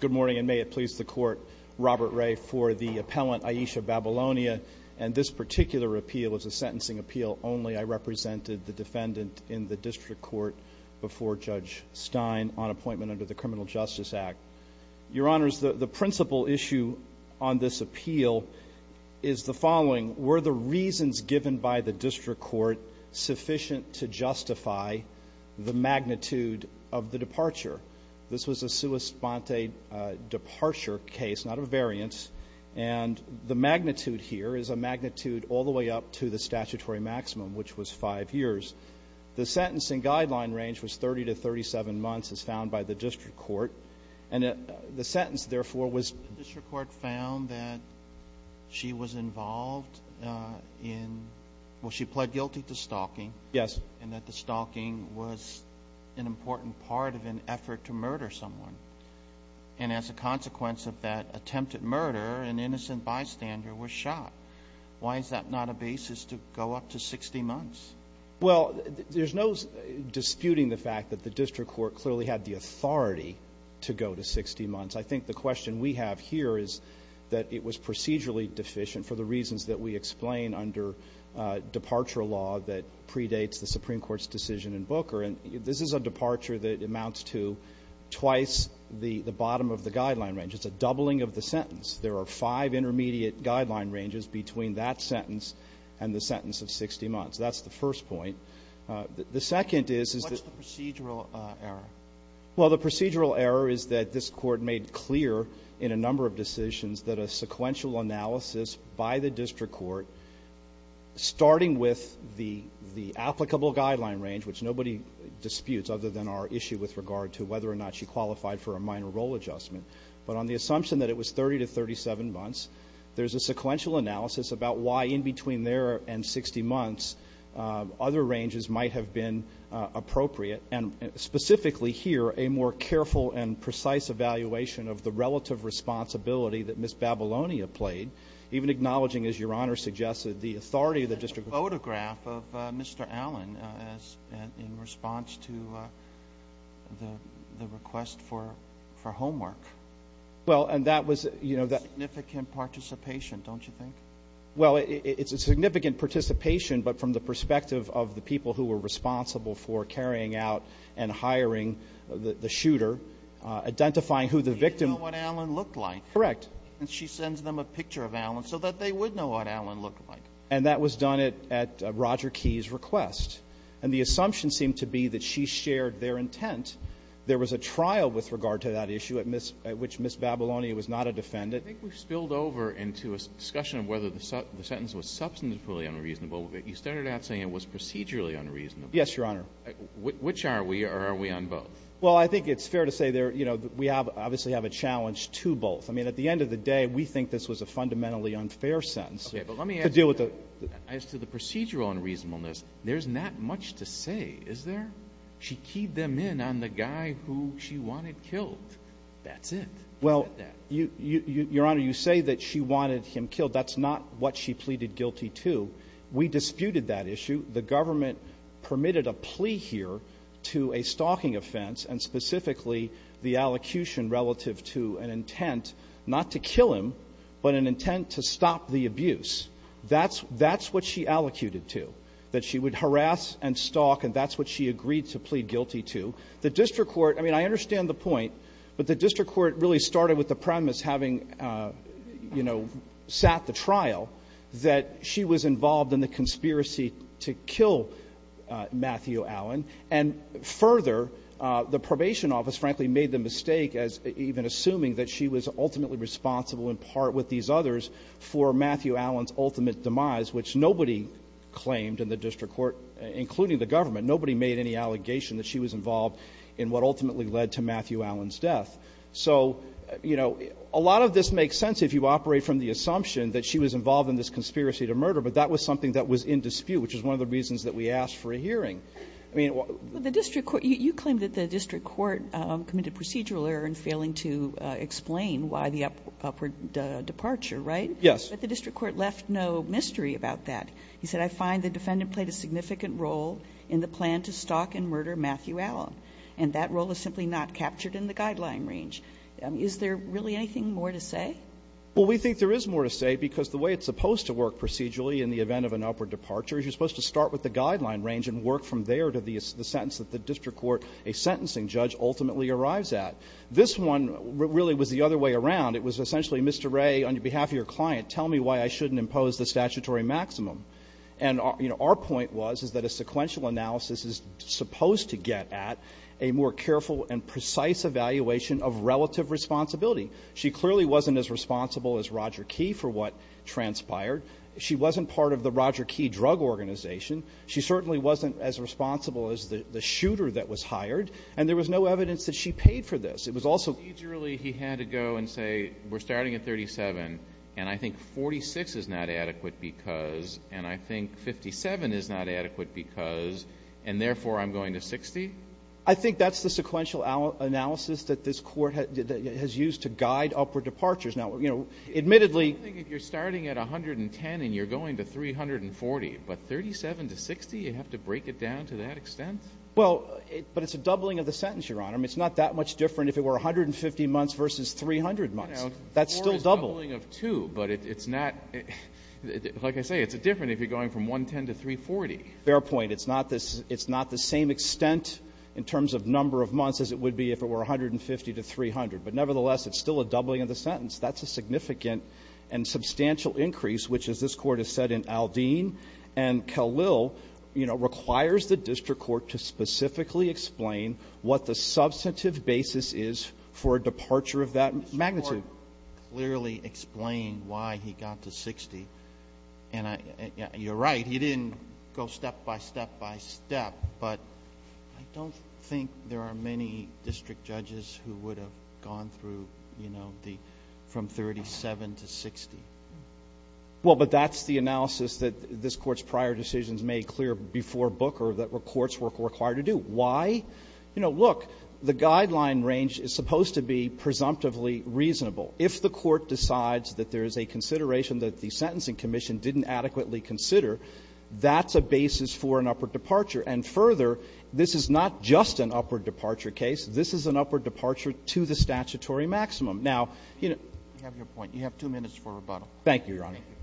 Good morning and may it please the court, Robert Ray for the appellant Aisha Babylonia and this particular appeal is a sentencing appeal only I represented the defendant in the district court before Judge Stein on appointment under the Criminal Justice Act. Your honors, the principal issue on this appeal is the following, were the reasons given by the district court sufficient to justify the magnitude of the departure? This was a sua sponte departure case, not a variance, and the magnitude here is a magnitude all the way up to the statutory maximum, which was five years. The sentencing guideline range was 30 to 37 months as found by the district court and the sentence therefore was The district court found that she was involved in, well she pled guilty to stalking Yes And that the stalking was an important part of an effort to murder someone and as a consequence of that attempted murder, an innocent bystander was shot. Why is that not a basis to go up to 60 months? Well there's no disputing the fact that the district court clearly had the authority to go to 60 months. I think the question we have here is that it was procedurally deficient for the reasons that we explain under departure law that predates the Supreme Court's decision in Booker. This is a departure that amounts to twice the bottom of the guideline range. It's a doubling of the sentence. There are five intermediate guideline ranges between that sentence and the sentence of 60 months. That's the first point. The second is What's the procedural error? Well the procedural error is that this court made clear in a number of decisions that a sequential analysis by the district court, starting with the applicable guideline range, which nobody disputes other than our issue with regard to whether or not she qualified for a minor role adjustment, but on the assumption that it was 30 to 37 months, there's a sequential analysis about why in between there and 60 months other ranges might have been appropriate and specifically here a more careful and precise evaluation of the relative responsibility that Ms. Babylonia played, even acknowledging, as Your Honor suggested, the authority of the district court. There's a photograph of Mr. Allen in response to the request for homework. Well and that was Significant participation, don't you think? Well it's a significant participation, but from the perspective of the people who were responsible for carrying out and hiring the shooter, identifying who the victim You know what Allen looked like. Correct. And she sends them a picture of Allen so that they would know what Allen looked like. And that was done at Roger Key's request. And the assumption seemed to be that she shared their intent. There was a trial with regard to that issue at which Ms. Babylonia was not a defendant. I think we've spilled over into a discussion of whether the sentence was substantively unreasonable. You started out saying it was procedurally unreasonable. Yes, Your Honor. Which are we or are we on both? Well I think it's fair to say we obviously have a challenge to both. I mean at the end of the day, we think this was a fundamentally unfair sentence to deal with the As to the procedural unreasonableness, there's not much to say, is there? She keyed them in on the guy who she wanted killed. That's it. Well, Your Honor, you say that she wanted him killed. That's not what she pleaded guilty to. We disputed that issue. The government permitted a plea here to a stalking offense, and specifically the allocution relative to an intent not to kill him, but an intent to stop the abuse. That's what she allocated to, that she would harass and stalk, and that's what she agreed to plead guilty to. The district court, I mean, I understand the point, but the district court really started with the premise, having, you know, sat the trial, that she was involved in the conspiracy to kill Matthew Allen. And further, the probation office, frankly, made the mistake as even assuming that she was ultimately responsible in part with these others for Matthew Allen's ultimate demise, which nobody claimed in the district court, including the government. Nobody made any allegation that she was involved in what ultimately led to Matthew Allen's death. So, you know, a lot of this makes sense if you operate from the assumption that she was involved in this conspiracy to murder, but that was something that was in dispute, which is one of the reasons that we asked for a hearing. I mean, what the district court you claim that the district court committed procedural error in failing to explain why the upward departure, right? Yes. But the district court left no mystery about that. He said, I find the defendant played a significant role in the plan to stalk and murder Matthew Allen, and that role is simply not captured in the guideline range. Is there really anything more to say? Well, we think there is more to say because the way it's supposed to work procedurally in the event of an upward departure is you're supposed to start with the guideline range and work from there to the sentence that the district court, a sentencing judge, ultimately arrives at. This one really was the other way around. It was essentially, Mr. Wray, on behalf of your client, tell me why I shouldn't impose the statutory maximum. And, you know, our point was, is that a sequential analysis is supposed to get at a more careful and precise evaluation of relative responsibility. She clearly wasn't as responsible as Roger Key for what transpired. She wasn't part of the Roger Key drug organization. She certainly wasn't as responsible as the shooter that was hired. And there was no evidence that she paid for this. It was also ---- So procedurally he had to go and say, we're starting at 37, and I think 46 is not adequate because, and I think 57 is not adequate because, and therefore I'm going to 60? I think that's the sequential analysis that this Court has used to guide upward departures. Now, you know, admittedly ---- I think if you're starting at 110 and you're going to 340, but 37 to 60, you have to break it down to that extent? Well, but it's a doubling of the sentence, Your Honor. I mean, it's not that much different if it were 150 months versus 300 months. That's still double. You know, 4 is doubling of 2, but it's not, like I say, it's different if you're going from 110 to 340. Fair point. It's not the same extent in terms of number of months as it would be if it were 150 to 300. But nevertheless, it's still a doubling of the sentence. That's a significant and substantial increase, which, as this Court has said in Aldine and Kalil, you know, requires the district court to specifically explain what the substantive basis is for a departure of that magnitude. The court clearly explained why he got to 60. And I ---- you're right. He didn't go step by step by step, but I don't think there are many district judges who would have gone through, you know, the ---- from 37 to 60. Well, but that's the analysis that this Court's prior decisions made clear before Booker that courts were required to do. Why? You know, look, the guideline range is supposed to be presumptively reasonable. If the Court decides that there is a consideration that the Sentencing Commission didn't adequately consider, that's a basis for an upward departure. And further, this is not just an upward departure case. This is an upward departure to the statutory maximum. Now, you know ---- Roberts. You have your point. You have two minutes for rebuttal. Thank you, Your Honor. Thank you.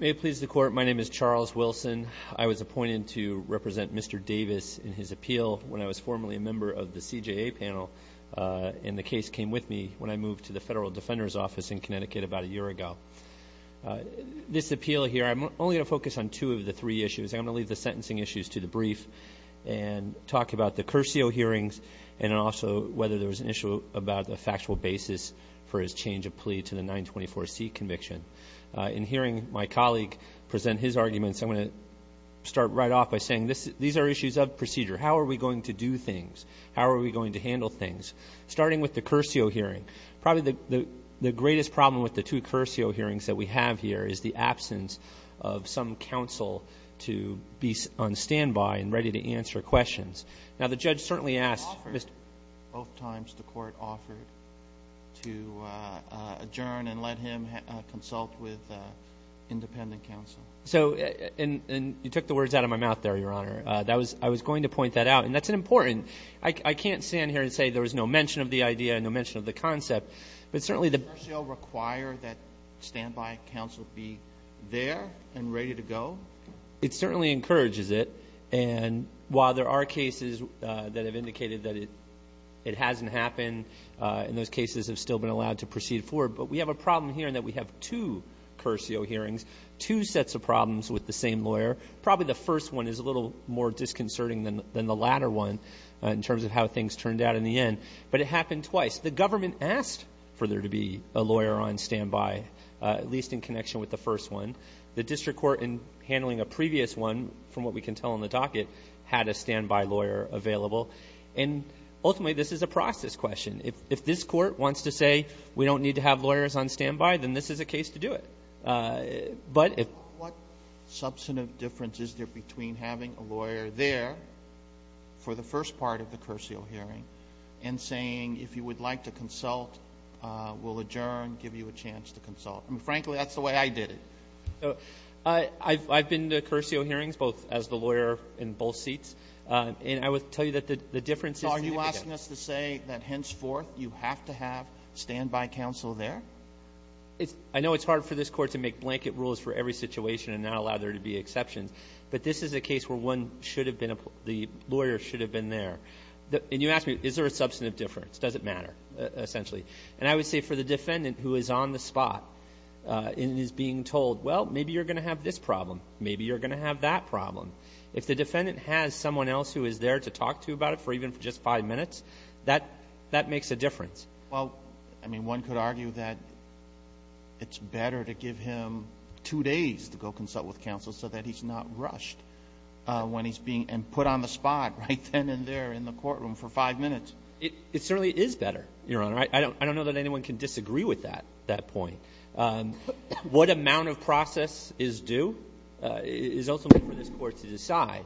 May it please the Court, my name is Charles Wilson. I was appointed to represent Mr. Davis in his appeal when I was formerly a member of the CJA panel, and the case came with me when I moved to the Federal Defender's Office in Connecticut about a year ago. This appeal here, I'm only going to focus on two of the three issues. I'm going to leave the sentencing issues to the brief and talk about the Curcio hearings and also whether there was an issue about the factual basis for his change of plea to the 924C conviction. In hearing my colleague present his arguments, I'm going to start right off by saying these are issues of procedure. How are we going to do things? How are we going to handle things? Starting with the Curcio hearing, probably the greatest problem with the two Curcio hearings that we have here is the absence of some counsel to be on standby and ready to answer questions. Now, the judge certainly asked ---- both times the court offered to adjourn and let him consult with independent counsel. You took the words out of my mouth there, Your Honor. I was going to point that out, and that's important. I can't stand here and say there was no mention of the idea, no mention of the concept, but certainly the ---- Does Curcio require that standby counsel be there and ready to go? It certainly encourages it. And while there are cases that have indicated that it hasn't happened, and those cases have still been allowed to proceed forward, but we have a problem here in that we have two Curcio hearings, two sets of problems with the same lawyer. Probably the first one is a little more disconcerting than the latter one in terms of how things turned out in the end, but it happened twice. The government asked for there to be a lawyer on standby, at least in connection with the first one. The district court, in handling a previous one, from what we can tell in the docket, had a standby lawyer available, and ultimately, this is a process question. If this court wants to say we don't need to have lawyers on standby, then this is a case to do it. But if ---- What substantive difference is there between having a lawyer there for the first part of the Curcio hearing and saying, if you would like to consult, we'll adjourn, give you a chance to consult? Frankly, that's the way I did it. I've been to Curcio hearings, both as the lawyer in both seats, and I would tell you that the difference is significant. So are you asking us to say that, henceforth, you have to have standby counsel there? I know it's hard for this Court to make blanket rules for every situation and not allow there to be exceptions, but this is a case where one should have been a ---- the lawyer should have been there. And you ask me, is there a substantive difference? Does it matter, essentially? And I would say for the defendant who is on the spot and is being told, well, maybe you're going to have this problem, maybe you're going to have that problem, if the defendant has someone else who is there to talk to about it for even just five minutes, that makes a difference. Well, I mean, one could argue that it's better to give him two days to go consult with counsel so that he's not rushed when he's being ---- and put on the spot right then and there in It certainly is better, Your Honor. I don't know that anyone can disagree with that point. What amount of process is due is ultimately for this Court to decide.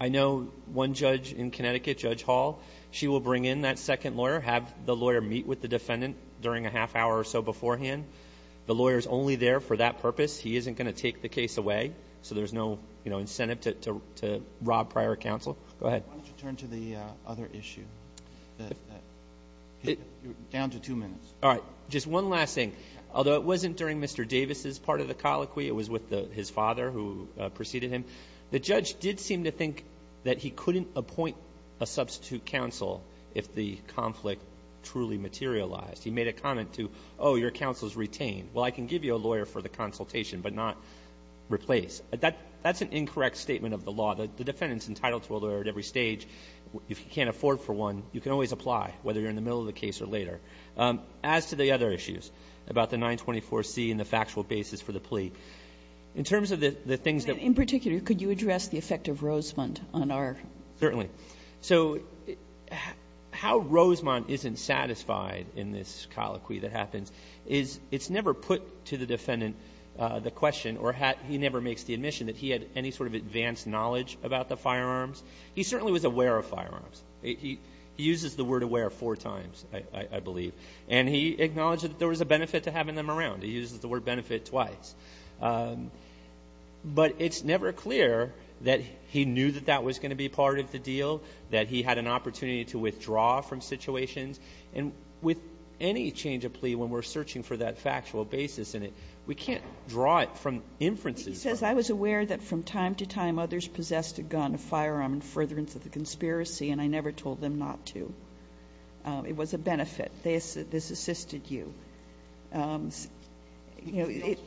I know one judge in Connecticut, Judge Hall, she will bring in that second lawyer, have the lawyer meet with the defendant during a half hour or so beforehand. The lawyer is only there for that purpose. He isn't going to take the case away, so there's no incentive to rob prior counsel. Go ahead. Why don't you turn to the other issue, down to two minutes. All right. Just one last thing. Although it wasn't during Mr. Davis' part of the colloquy, it was with his father who preceded him. The judge did seem to think that he couldn't appoint a substitute counsel if the conflict truly materialized. He made a comment to, oh, your counsel is retained. Well, I can give you a lawyer for the consultation but not replace. That's an incorrect statement of the law. The defendant is entitled to a lawyer at every stage. If you can't afford for one, you can always apply, whether you're in the middle of the case or later. As to the other issues about the 924C and the factual basis for the plea, in terms of the things that we're talking about. In particular, could you address the effect of Rosemont on our? Certainly. So how Rosemont isn't satisfied in this colloquy that happens is it's never put to the defendant the question or he never makes the admission that he had any sort of advanced knowledge about the firearms. He certainly was aware of firearms. He uses the word aware four times, I believe. And he acknowledged that there was a benefit to having them around. He uses the word benefit twice. But it's never clear that he knew that that was going to be part of the deal, that he had an opportunity to withdraw from situations. And with any change of plea when we're searching for that factual basis in it, we can't draw it from inferences. He says, I was aware that from time to time others possessed a gun, a firearm, in furtherance of the conspiracy, and I never told them not to. It was a benefit. This assisted you. You know, it's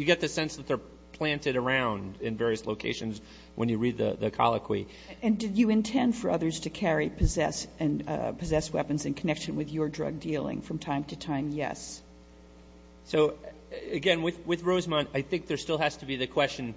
you get the sense that they're planted around in various locations when you read the colloquy. And did you intend for others to carry, possess, and possess weapons in connection with your drug dealing from time to time? Yes. So, again, with Rosemont, I think there still has to be the question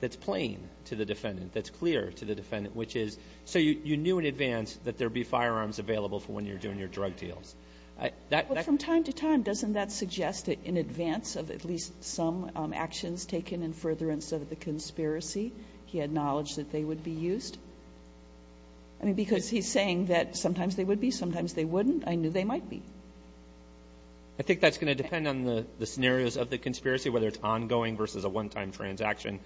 that's plain to the defendant, that's clear to the defendant, which is, so you knew in advance that there would be firearms available for when you're doing your drug deals. That's the question. But from time to time, doesn't that suggest that in advance of at least some actions taken in furtherance of the conspiracy, he had knowledge that they would be used? I mean, because he's saying that sometimes they would be, sometimes they wouldn't. I knew they might be. I think that's going to depend on the scenarios of the conspiracy, whether it's ongoing versus a one-time transaction.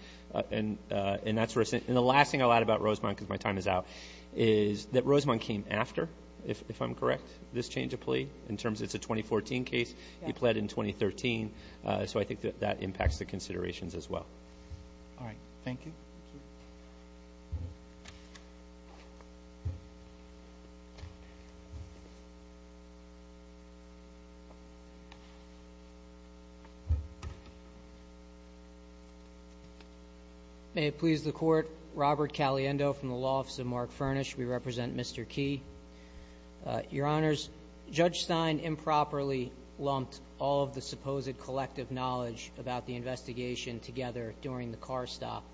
And that's where, and the last thing I'll add about Rosemont, because my time is out, is that Rosemont came after, if I'm correct, this change of plea, in terms it's a 2014 case, he pled in 2013. So I think that that impacts the considerations as well. All right. Thank you. May it please the court. Robert Caliendo from the Law Office of Mark Furnish. We represent Mr. Key. Your Honors, Judge Stein improperly lumped all of the supposed collective knowledge about the investigation together during the car stop.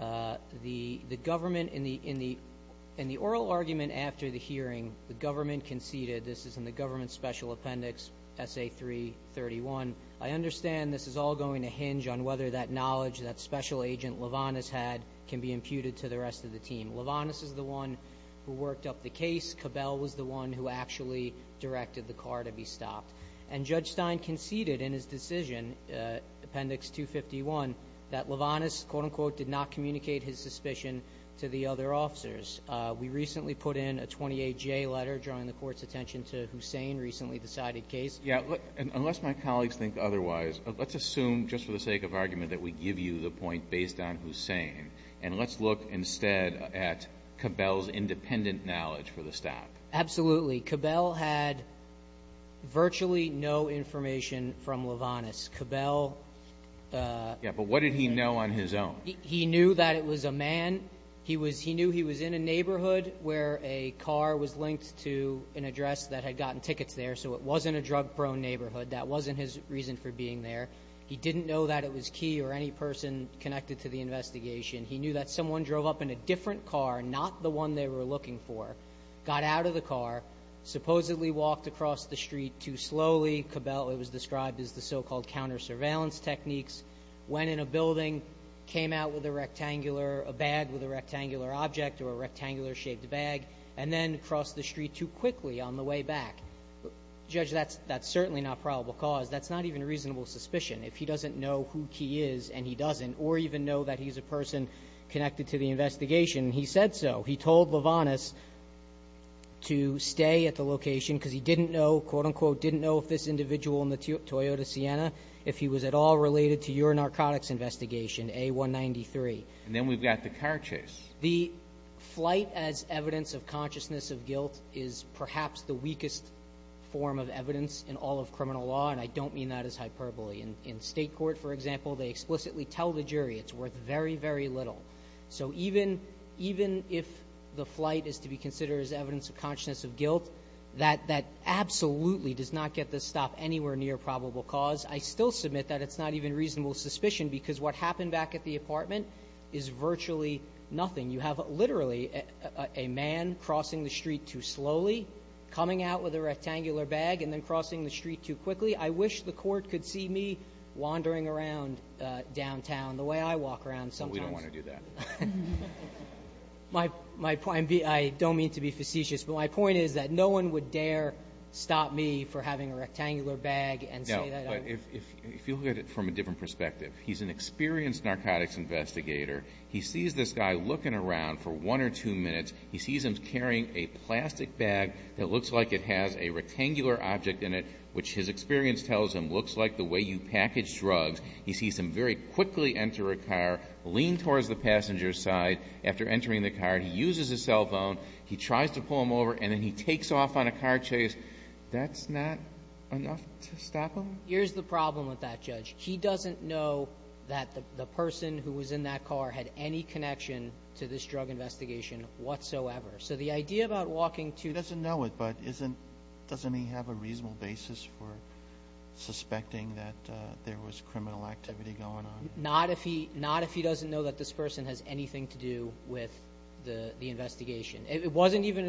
The government, in the oral argument after the hearing, the government conceded, this is in the government special appendix SA331, I understand this is all going to hinge on whether that knowledge that Special Agent Levanus had can be imputed to the rest of the team. Levanus is the one who worked up the case. Cabell was the one who actually directed the car to be stopped. And Judge Stein conceded in his decision, appendix 251, that Levanus, quote unquote, did not communicate his suspicion to the other officers. We recently put in a 28-J letter drawing the court's attention to Hussain, recently decided case. Yeah, unless my colleagues think otherwise, let's assume, just for the sake of argument, that we give you the point based on Hussain. And let's look instead at Cabell's independent knowledge for the stop. Absolutely. Cabell had virtually no information from Levanus. Cabell- Yeah, but what did he know on his own? He knew that it was a man. He knew he was in a neighborhood where a car was linked to an address that had gotten tickets there. So it wasn't a drug-prone neighborhood. That wasn't his reason for being there. He didn't know that it was key or any person connected to the investigation. He knew that someone drove up in a different car, not the one they were looking for, got out of the car, supposedly walked across the street too slowly. Cabell, it was described as the so-called counter-surveillance techniques. Went in a building, came out with a rectangular, a bag with a rectangular object or a rectangular shaped bag, and then crossed the street too quickly on the way back. Judge, that's certainly not probable cause. That's not even a reasonable suspicion. If he doesn't know who Key is, and he doesn't, or even know that he's a person connected to the investigation, he said so. He told Levanus to stay at the location because he didn't know, quote unquote, didn't know if this individual in the Toyota Sienna, if he was at all related to your narcotics investigation, A193. And then we've got the car chase. The flight as evidence of consciousness of guilt is perhaps the weakest form of evidence in all of criminal law, and I don't mean that as hyperbole. In state court, for example, they explicitly tell the jury it's worth very, very little. So even if the flight is to be considered as evidence of consciousness of guilt, that absolutely does not get the stop anywhere near probable cause. I still submit that it's not even reasonable suspicion because what happened back at the apartment is virtually nothing. You have literally a man crossing the street too slowly, coming out with a rectangular bag, and then crossing the street too quickly. I wish the court could see me wandering around downtown the way I walk around sometimes. We don't want to do that. My point, I don't mean to be facetious, but my point is that no one would dare stop me for having a rectangular bag and say that I'm- If you look at it from a different perspective, he's an experienced narcotics investigator. He sees this guy looking around for one or two minutes. He sees him carrying a plastic bag that looks like it has a rectangular object in it, which his experience tells him looks like the way you package drugs. He sees him very quickly enter a car, lean towards the passenger's side. After entering the car, he uses his cell phone. He tries to pull him over, and then he takes off on a car chase. That's not enough to stop him? Here's the problem with that, Judge. He doesn't know that the person who was in that car had any connection to this drug investigation whatsoever. So the idea about walking to- He doesn't know it, but doesn't he have a reasonable basis for suspecting that there was criminal activity going on? Not if he doesn't know that this person has anything to do with the investigation. It wasn't even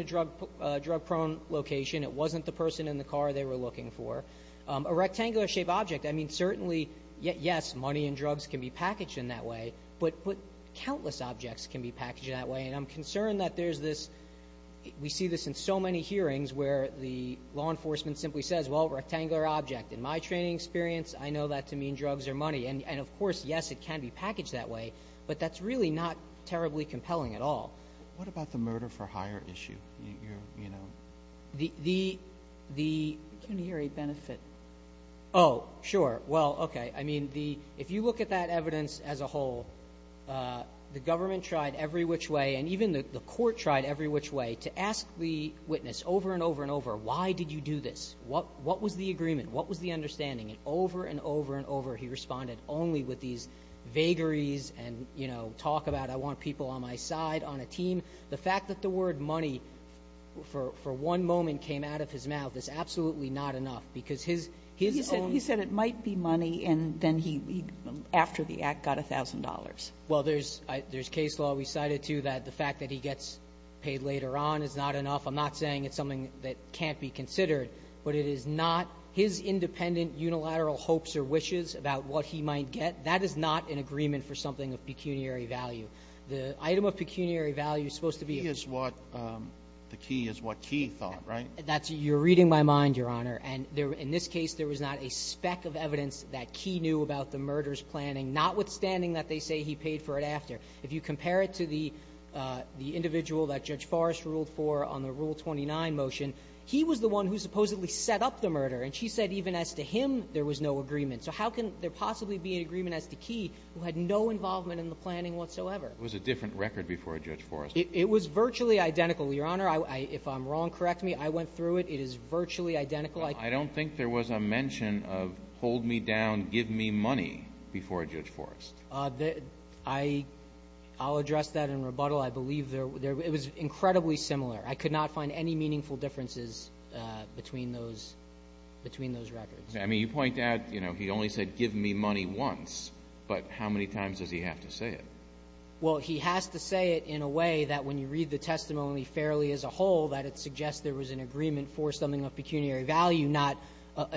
a drug prone location. It wasn't the person in the car they were looking for. A rectangular shaped object, I mean, certainly, yes, money and drugs can be packaged in that way, but countless objects can be packaged in that way. And I'm concerned that there's this, we see this in so many hearings where the law enforcement simply says, well, rectangular object. In my training experience, I know that to mean drugs or money. And of course, yes, it can be packaged that way, but that's really not terribly compelling at all. What about the murder for hire issue? You're, you know- The, the, the- Can you hear a benefit? Sure, well, okay. I mean, the, if you look at that evidence as a whole, the government tried every which way, and even the court tried every which way to ask the witness over and over and over, why did you do this? What, what was the agreement? What was the understanding? And over and over and over, he responded only with these vagaries and, you know, talk about I want people on my side, on a team. The fact that the word money for, for one moment came out of his mouth is absolutely not enough, because his, his own- He said, he said it might be money, and then he, after the act, got $1,000. Well, there's, there's case law we cited, too, that the fact that he gets paid later on is not enough. I'm not saying it's something that can't be considered, but it is not. His independent unilateral hopes or wishes about what he might get, that is not an agreement for something of pecuniary value. The item of pecuniary value is supposed to be- The key is what, the key is what Key thought, right? That's, you're reading my mind, Your Honor, and there, in this case, there was not a speck of evidence that Key knew about the murder's planning, notwithstanding that they say he paid for it after. If you compare it to the, the individual that Judge Forrest ruled for on the Rule 29 motion, he was the one who supposedly set up the murder, and she said even as to him, there was no agreement. So how can there possibly be an agreement as to Key, who had no involvement in the murder whatsoever? It was a different record before Judge Forrest. It was virtually identical, Your Honor. If I'm wrong, correct me. I went through it. It is virtually identical. I don't think there was a mention of hold me down, give me money before Judge Forrest. I'll address that in rebuttal. I believe there, it was incredibly similar. I could not find any meaningful differences between those, between those records. I mean, you point out, you know, he only said give me money once, but how many times does he have to say it? Well, he has to say it in a way that when you read the testimony fairly as a whole, that it suggests there was an agreement for something of pecuniary value, not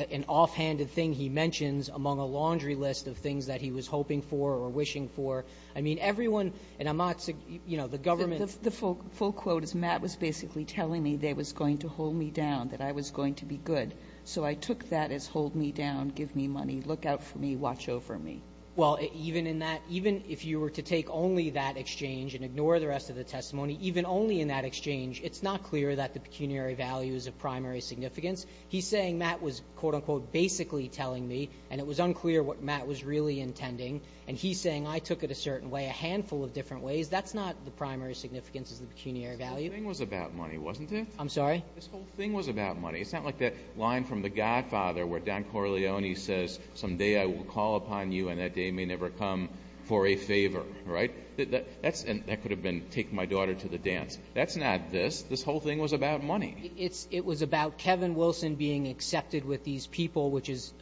an offhanded thing he mentions among a laundry list of things that he was hoping for or wishing for. I mean, everyone in Amat's, you know, the government of the full quote is Matt was basically telling me they was going to hold me down, that I was going to be good. So I took that as hold me down, give me money, look out for me, watch over me. Well, even in that, even if you were to take only that exchange and ignore the rest of the testimony, even only in that exchange, it's not clear that the pecuniary value is a primary significance. He's saying Matt was quote unquote basically telling me and it was unclear what Matt was really intending. And he's saying I took it a certain way, a handful of different ways. That's not the primary significance is the pecuniary value. It was about money, wasn't it? I'm sorry. This whole thing was about money. It's not like that line from the Godfather where Don Corleone says someday I will call upon you and that day may never come for a favor. Right. That's that could have been take my daughter to the dance. That's not this. This whole thing was about money. It's it was about Kevin Wilson being accepted with these people, which is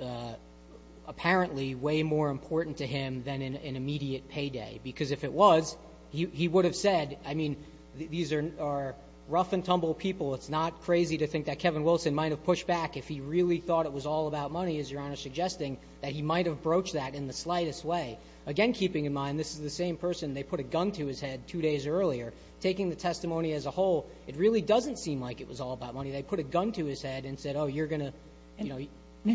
apparently way more important to him than an immediate payday, because if it was, he would have said, I mean, these are are rough and tumble people. It's not crazy to think that Kevin Wilson might have pushed back if he really thought it was all about money, as you're suggesting that he might have broached that in the slightest way. Again, keeping in mind, this is the same person. They put a gun to his head two days earlier, taking the testimony as a whole. It really doesn't seem like it was all about money. They put a gun to his head and said, oh, you're going to know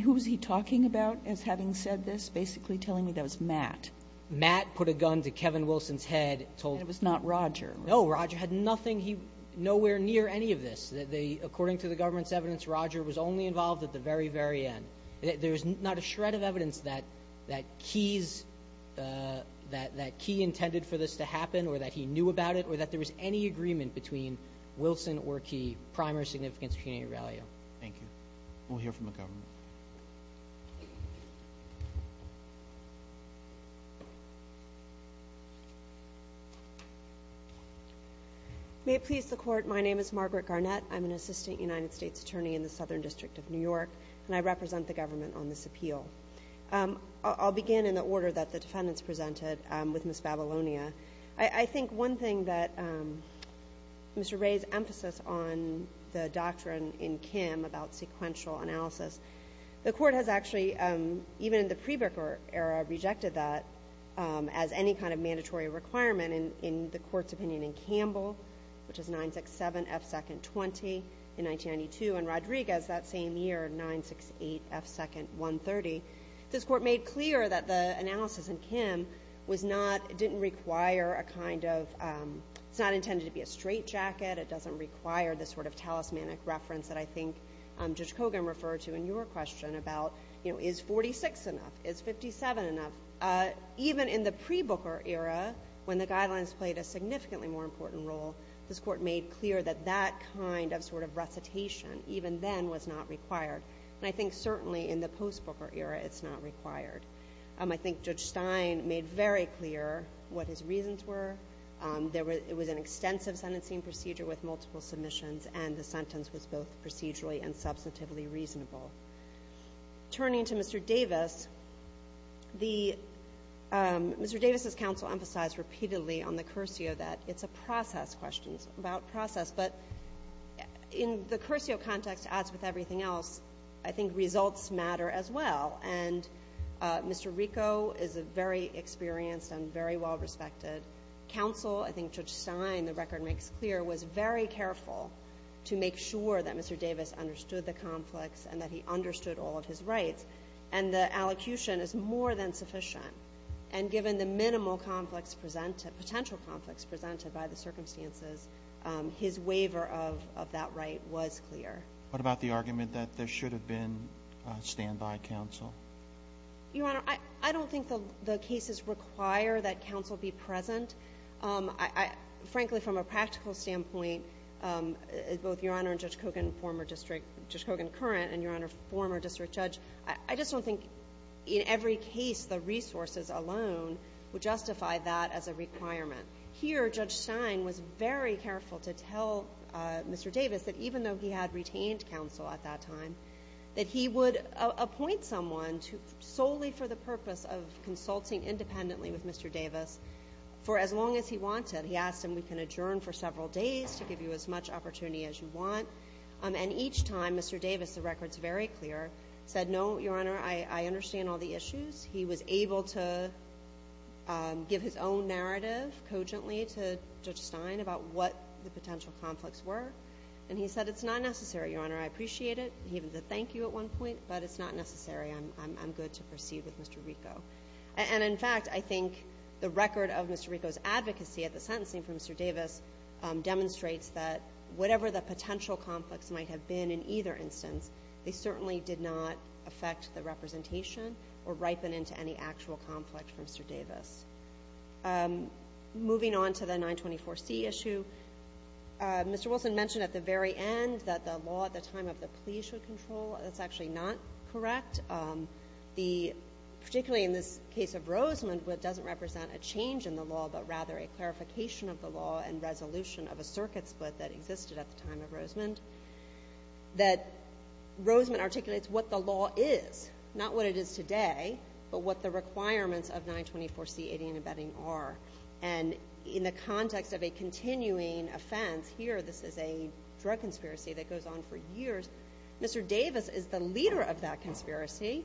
who was he talking about? As having said this, basically telling me that was Matt. Matt put a gun to Kevin Wilson's head. So it was not Roger. No, Roger had nothing. He nowhere near any of this. According to the government's evidence, Roger was only involved at the very, very end. There is not a shred of evidence that that keys that that key intended for this to happen or that he knew about it or that there was any agreement between Wilson or key. Primer significance, community value. Thank you. We'll hear from the government. May it please the court. My name is Margaret Garnett. I'm an assistant United States attorney in the Southern District of New York, and I represent the government on this appeal. I'll begin in the order that the defendants presented with Miss Babylonia. I think one thing that Mr. Ray's emphasis on the doctrine in Kim about sequential analysis, the court has actually, even in the Prebaker era, rejected that as any kind of mandatory requirement in the court's opinion in Campbell, which is 967 F. 2nd 20 in 1992, and Rodriguez that same year, 968 F. 2nd 130. This court made clear that the analysis in Kim was not, didn't require a kind of, it's not intended to be a straitjacket. It doesn't require the sort of talismanic reference that I think Judge Kogan referred to in your question about, you know, is 46 enough? Is 57 enough? Even in the Prebaker era, when the guidelines played a significantly more important role, this court made clear that that kind of sort of recitation even then was not required. And I think certainly in the Postbaker era, it's not required. I think Judge Stein made very clear what his reasons were. There were, it was an extensive sentencing procedure with multiple submissions and the sentence was both procedurally and substantively reasonable. Turning to Mr. Davis, the, Mr. Davis's counsel emphasized repeatedly on the cursio that it's a process, questions about process, but in the cursio context as with everything else, I think results matter as well. And Mr. Rico is a very experienced and very well respected counsel. I think Judge Stein, the record makes clear, was very careful to make sure that Mr. Davis understood the conflicts and that he understood all of his rights. And the allocution is more than sufficient. And given the minimal conflicts presented, potential conflicts presented by the circumstances, his waiver of that right was clear. What about the argument that there should have been a standby counsel? Your Honor, I don't think the cases require that counsel be present. I, frankly, from a practical standpoint, both Your Honor and Judge Kogan, former district, Judge Kogan current, and Your Honor, former district judge, I just don't think in every case the resources alone would justify that as a requirement. Here, Judge Stein was very careful to tell Mr. Davis that even though he had retained counsel at that time, that he would appoint someone to, solely for the purpose of as long as he wanted. He asked him, we can adjourn for several days to give you as much opportunity as you want. And each time, Mr. Davis, the record's very clear, said, no, Your Honor, I understand all the issues. He was able to give his own narrative, cogently, to Judge Stein about what the potential conflicts were. And he said, it's not necessary, Your Honor. I appreciate it. He even said thank you at one point, but it's not necessary. I'm good to proceed with Mr. Rico. And in fact, I think the record of Mr. Rico's advocacy at the sentencing for Mr. Davis demonstrates that whatever the potential conflicts might have been in either instance, they certainly did not affect the representation or ripen into any actual conflict for Mr. Davis. Moving on to the 924C issue, Mr. Wilson mentioned at the very end that the law at the time of the plea should control. That's actually not correct. Particularly in this case of Rosemond, what doesn't represent a change in the law, but rather a clarification of the law and resolution of a circuit split that existed at the time of Rosemond, that Rosemond articulates what the law is. Not what it is today, but what the requirements of 924C, 80, and abetting are. And in the context of a continuing offense, here, this is a drug conspiracy that goes on for years. Mr. Davis is the leader of that conspiracy.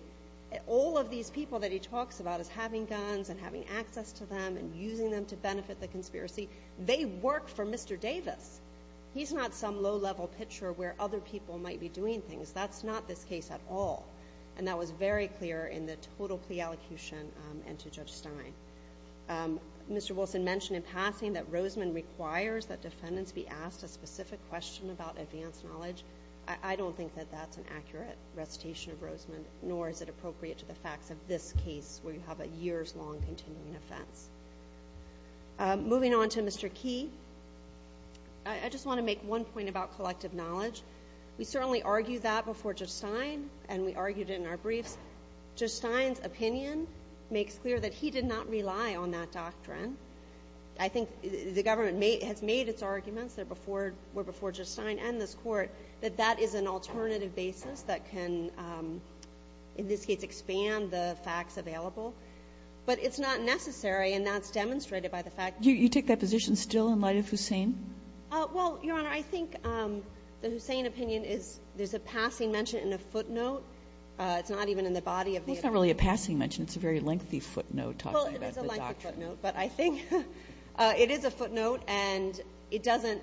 All of these people that he talks about as having guns and having access to them and using them to benefit the conspiracy, they work for Mr. Davis. He's not some low-level pitcher where other people might be doing things. That's not this case at all. And that was very clear in the total plea allocution and to Judge Stein. Mr. Wilson mentioned in passing that Rosemond requires that defendants be asked a specific question about advanced knowledge. I don't think that that's an accurate recitation of Rosemond, nor is it appropriate to the facts of this case where you have a years-long continuing offense. Moving on to Mr. Key, I just want to make one point about collective knowledge. We certainly argued that before Judge Stein, and we argued it in our briefs. Judge Stein's opinion makes clear that he did not rely on that doctrine. I think the government has made its arguments before Judge Stein and this Court that that is an alternative basis that can, in this case, expand the facts available. But it's not necessary, and that's demonstrated by the fact that he did not rely on it. You take that position still in light of Hussain? Well, Your Honor, I think the Hussain opinion is there's a passing mention in a footnote. It's not even in the body of the opinion. It's not really a passing mention. It's a very lengthy footnote talking about the doctrine. But I think it is a footnote, and it doesn't,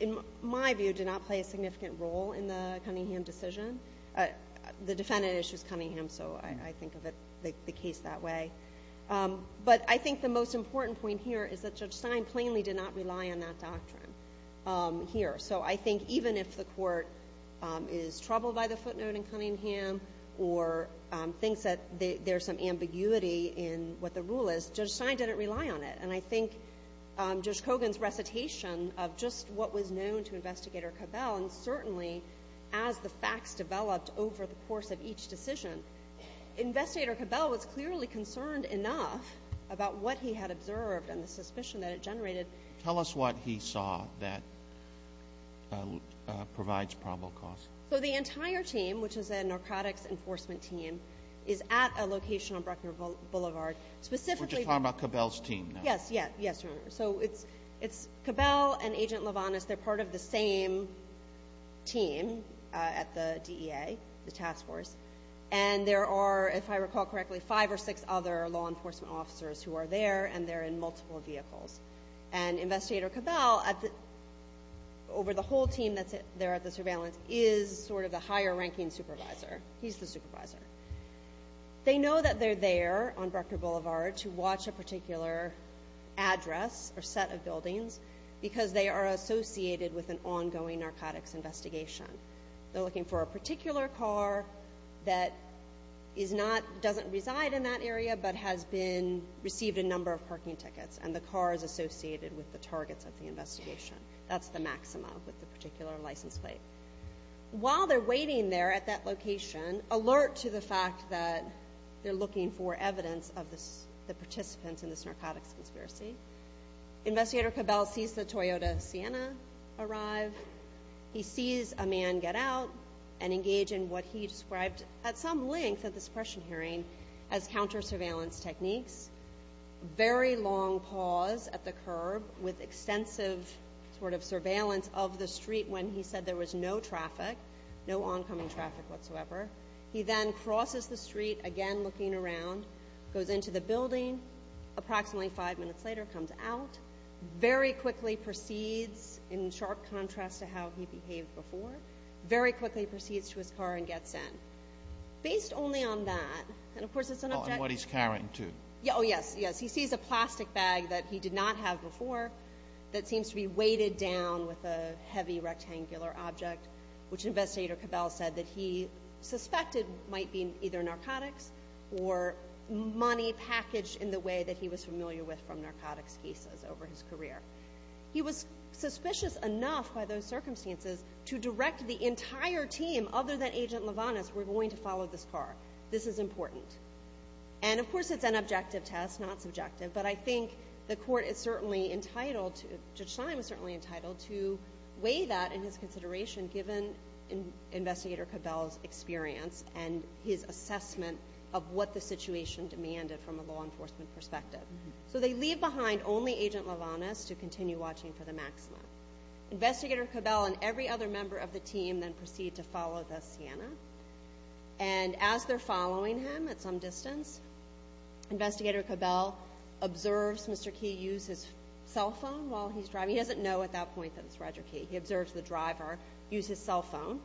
in my view, do not play a significant role in the Cunningham decision. The defendant issues Cunningham, so I think of the case that way. But I think the most important point here is that Judge Stein plainly did not rely on that doctrine here. So I think even if the Court is troubled by the footnote in Cunningham or thinks that there's some ambiguity in what the rule is, Judge Stein didn't rely on it. And I think Judge Kogan's recitation of just what was known to Investigator Cabell, and certainly as the facts developed over the course of each decision, Investigator Cabell was clearly concerned enough about what he had observed and the suspicion that it generated. Tell us what he saw that provides probable cause. So the entire team, which is a narcotics enforcement team, is at a location on Bruckner Boulevard, specifically... We're just talking about Cabell's team now. Yes, yes. Yes, Your Honor. So it's Cabell and Agent LaVonis. They're part of the same team at the DEA, the task force. And there are, if I recall correctly, five or six other law enforcement officers who are there, and they're in multiple vehicles. And Investigator Cabell, over the whole team that's there at the surveillance, is sort of the higher-ranking supervisor. He's the supervisor. They know that they're there on Bruckner Boulevard to watch a particular address or set of buildings because they are associated with an ongoing narcotics investigation. They're looking for a particular car that doesn't reside in that area but has received a number of parking tickets, and the car is associated with the targets of the investigation. That's the maxima with the particular license plate. While they're waiting there at that location, alert to the fact that they're looking for evidence of the participants in this narcotics conspiracy. Investigator Cabell sees the Toyota Sienna arrive. He sees a man get out and engage in what he described at some length at the suppression hearing as counter-surveillance techniques. Very long pause at the curb with extensive sort of surveillance of the street when he said there was no traffic, no oncoming traffic whatsoever. He then crosses the street, again looking around, goes into the building. Approximately five minutes later, comes out. Very quickly proceeds, in sharp contrast to how he behaved before, very quickly proceeds to his car and gets in. Based only on that, and of course it's an object... And what he's carrying, too. Oh, yes, yes. He sees a plastic bag that he did not have before that seems to be weighted down with a heavy rectangular object, which Investigator Cabell said that he suspected might be either narcotics or money packaged in the way that he was familiar with from narcotics cases over his career. He was suspicious enough by those circumstances to direct the entire team, other than Agent LaVonis, we're going to follow this car. This is important. And, of course, it's an objective test, not subjective, but I think the court is certainly entitled to, Judge Stein was certainly entitled to weigh that in his consideration given Investigator Cabell's experience and his assessment of what the situation demanded from a law enforcement perspective. So, they leave behind only Agent LaVonis to continue watching for the Maxima. Investigator Cabell and every other member of the team then proceed to follow the Sienna. And as they're following him at some distance, Investigator Cabell observes Mr. Key use his cell phone while he's driving. He doesn't know at that point that it's Roger Key. He observes the driver use his cell phone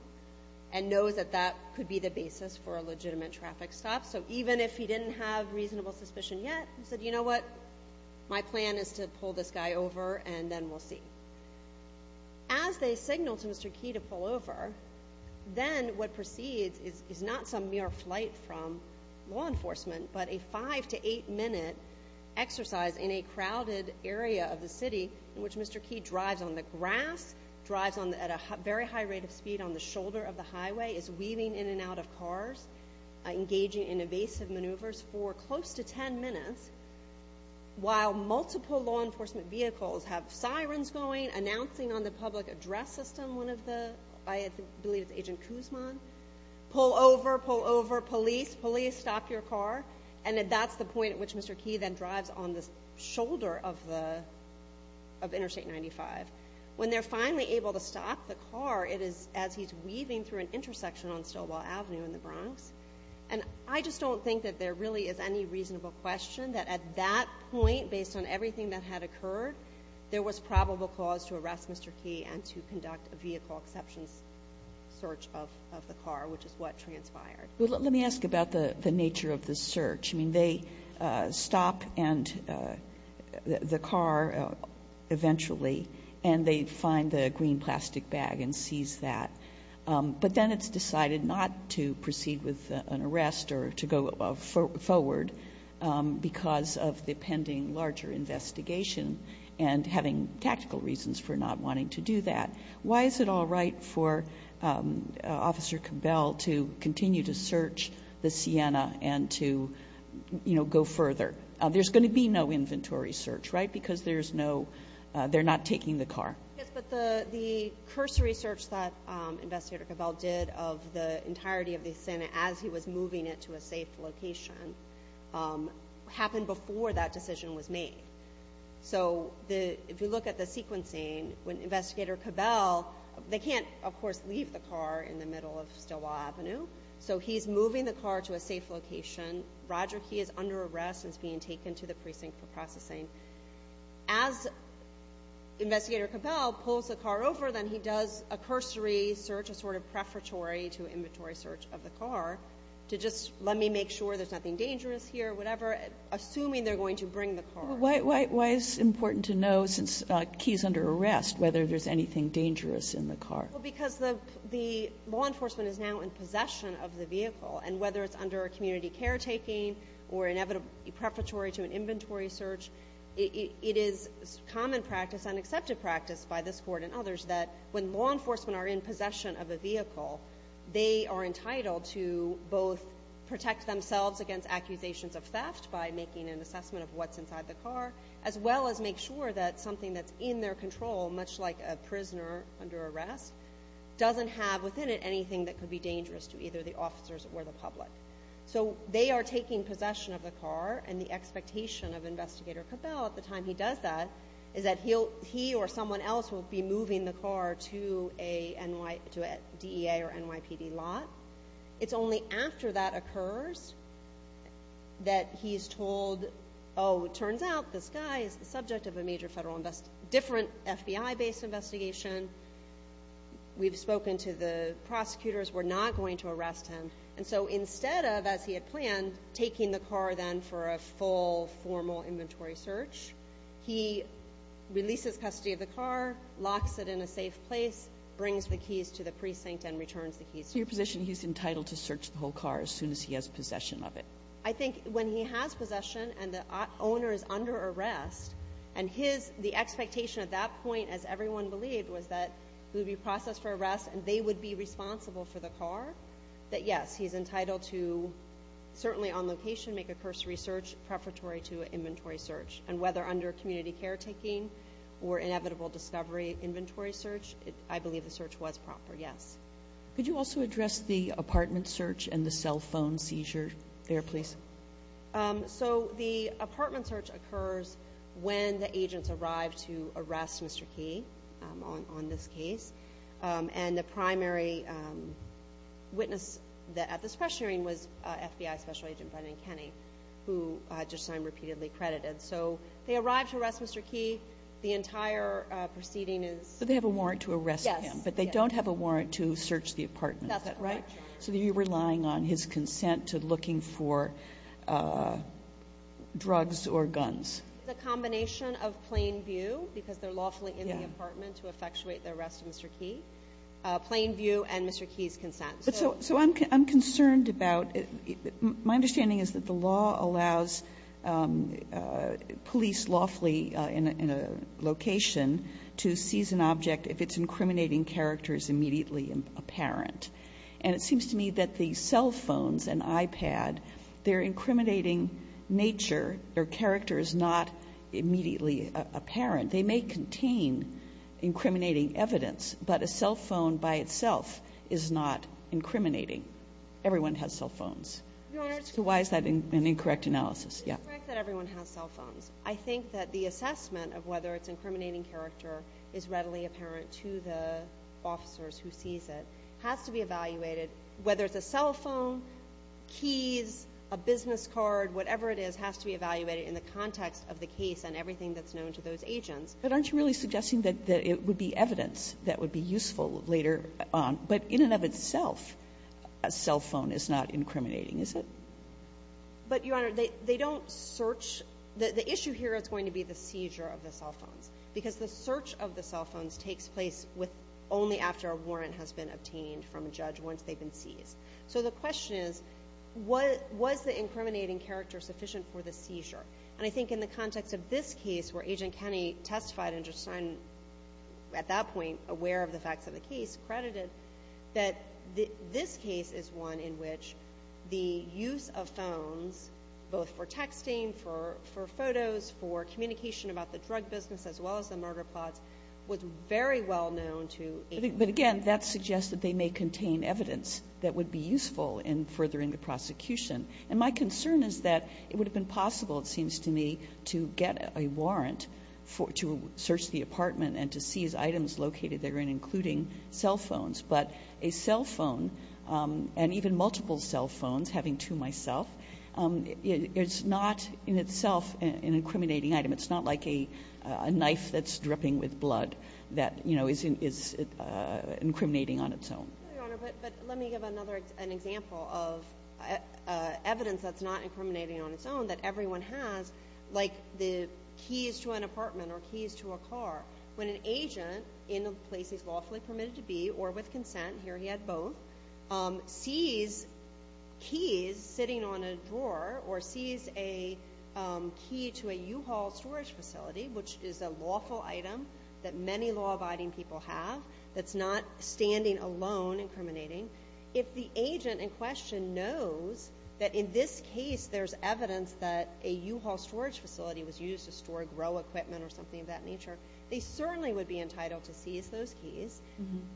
and knows that that could be the basis for a legitimate traffic stop. So, even if he didn't have reasonable suspicion yet, he said, you know what? My plan is to pull this guy over and then we'll see. As they signal to Mr. Key to pull over, then what proceeds is not some mere flight from law enforcement, but a five to eight minute exercise in a crowded area of the city in which Mr. Key drives on the grass, drives at a very high rate of speed on the shoulder of the highway, is weaving in and out of cars, engaging in evasive maneuvers for close to 10 minutes while multiple law enforcement vehicles have sirens going, announcing on the public address system one of the, I believe it's Agent Kuzman, pull over, pull over, police, police stop your car. And that's the point at which Mr. Key then drives on the shoulder of Interstate 95. When they're finally able to stop the car, it is as he's weaving through an intersection on Stilwell Avenue in the Bronx. And I just don't think that there really is any reasonable question that at that point, based on everything that had occurred, there was probable cause to arrest Mr. Key and to conduct a vehicle exceptions search of the car, which is what transpired. Sotomayor, let me ask about the nature of the search. I mean, they stop and the car eventually, and they find the green plastic bag and seize that, but then it's decided not to proceed with an arrest or to go forward because of the pending larger investigation and having tactical reasons for not wanting to do that. Why is it all right for Officer Cabell to continue to search the Sienna and to go further? There's going to be no inventory search, right? Because there's no, they're not taking the car. Yes, but the cursory search that Investigator Cabell did of the entirety of the Sienna as he was moving it to a safe location happened before that decision was made. So if you look at the sequencing, when Investigator Cabell, they can't, of course, leave the car in the middle of Stilwell Avenue. So he's moving the car to a safe location, Roger Key is under arrest and is being taken to the precinct for processing. As Investigator Cabell pulls the car over, then he does a cursory search, a sort of prefatory to inventory search of the car to just let me make sure there's nothing dangerous here, whatever, assuming they're going to bring the car. Why is it important to know, since Key is under arrest, whether there's anything dangerous in the car? Well, because the law enforcement is now in possession of the vehicle. And whether it's under community caretaking or inevitably prefatory to an inventory search, it is common practice and accepted practice by this court and others that when law enforcement are in possession of a vehicle, they are entitled to both protect themselves against accusations of theft by making an assessment of what's inside the car, as well as make sure that something that's in their control, much like a prisoner under arrest, doesn't have within it anything that could be dangerous to either the officers or the public. So they are taking possession of the car. And the expectation of Investigator Cabell at the time he does that is that he or someone else will be moving the car to a DEA or NYPD lot. It's only after that occurs that he's told, oh, it turns out this guy is the subject of a major federal investigation, different FBI-based investigation. We've spoken to the prosecutors. We're not going to arrest him. And so instead of, as he had planned, taking the car then for a full formal inventory search, he releases custody of the car, locks it in a safe place, brings the keys to the precinct and returns the keys. So your position, he's entitled to search the whole car as soon as he has possession of it? I think when he has possession and the owner is under arrest, and the expectation at that point, as everyone believed, was that he would be processed for arrest and they would be Yes, he's entitled to, certainly on location, make a cursory search preparatory to an inventory search. And whether under community caretaking or inevitable discovery inventory search, I believe the search was proper, yes. Could you also address the apartment search and the cell phone seizure there, please? So the apartment search occurs when the agents arrive to arrest Mr. Key on this case. And the primary witness at this press hearing was FBI Special Agent Brendan Kenney, who I just am repeatedly credited. So they arrive to arrest Mr. Key. The entire proceeding is... So they have a warrant to arrest him, but they don't have a warrant to search the apartment, is that right? That's correct. So you're relying on his consent to looking for drugs or guns. The combination of plain view, because they're lawfully in the apartment to effectuate the arrest of Mr. Key, plain view and Mr. Key's consent. So I'm concerned about my understanding is that the law allows police lawfully in a location to seize an object if it's incriminating characters immediately apparent. And it seems to me that the cell phones and iPad, they're incriminating nature. Their character is not immediately apparent. They may contain incriminating evidence, but a cell phone by itself is not incriminating. Everyone has cell phones. Your Honor... So why is that an incorrect analysis? Yeah. It's correct that everyone has cell phones. I think that the assessment of whether it's incriminating character is readily apparent to the officers who seize it has to be evaluated, whether it's a cell phone, keys, a business card, whatever it is, has to be evaluated in the context of the case and everything that's known to those agents. But aren't you really suggesting that it would be evidence that would be useful later on? But in and of itself, a cell phone is not incriminating, is it? But Your Honor, they don't search. The issue here is going to be the seizure of the cell phones, because the search of the cell phones takes place only after a warrant has been obtained from a judge once they've been seized. So the question is, was the incriminating character sufficient for the seizure? And I think in the context of this case, where Agent Kenney testified and Judge Stein, at that point, aware of the facts of the case, credited that this case is one in which the use of phones, both for texting, for photos, for communication about the drug business, as well as the murder plots, was very well known to... But again, that suggests that they may contain evidence that would be useful in furthering the prosecution. And my concern is that it would have been possible, it seems to me, to get a warrant to search the apartment and to seize items located therein, including cell phones. But a cell phone, and even multiple cell phones, having two myself, it's not in itself an incriminating item. It's not like a knife that's dripping with blood that, you know, is incriminating on its own. Your Honor, but let me give another example of evidence that's not incriminating on its own, that everyone has, like the keys to an apartment or keys to a car. When an agent, in a place he's lawfully permitted to be, or with consent, here he had both, sees keys sitting on a drawer, or sees a key to a U-Haul storage facility, which is a lawful item that many law-abiding people have, that's not standing alone incriminating. If the agent in question knows that in this case there's evidence that a U-Haul storage facility was used to store grow equipment or something of that nature, they certainly would be entitled to seize those keys,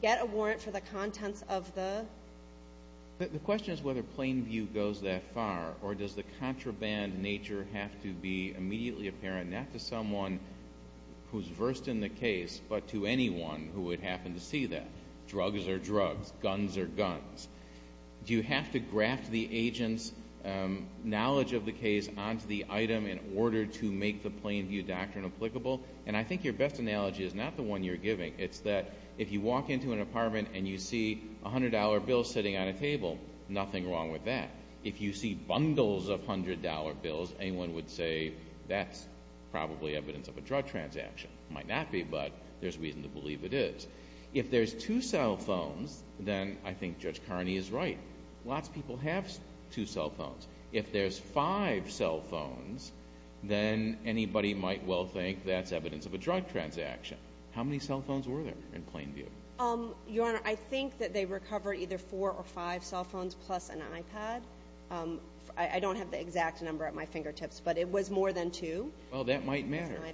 get a warrant for the contents of the... The question is whether plain view goes that far, or does the contraband nature have to be immediately apparent, not to someone who's versed in the case, but to anyone who would happen to see that? Drugs are drugs. Guns are guns. Do you have to graft the agent's knowledge of the case onto the item in order to make the plain view doctrine applicable? And I think your best analogy is not the one you're giving. It's that if you walk into an apartment and you see a $100 bill sitting on a table, nothing wrong with that. If you see bundles of $100 bills, anyone would say that's probably evidence of a drug transaction. Might not be, but there's reason to believe it is. If there's two cell phones, then I think Judge Carney is right. Lots of people have two cell phones. If there's five cell phones, then anybody might well think that's evidence of a drug transaction. How many cell phones were there in plain view? Your Honor, I think that they recover either four or five cell phones plus an iPad. I don't have the exact number at my fingertips, but it was more than two. Well, that might matter. With an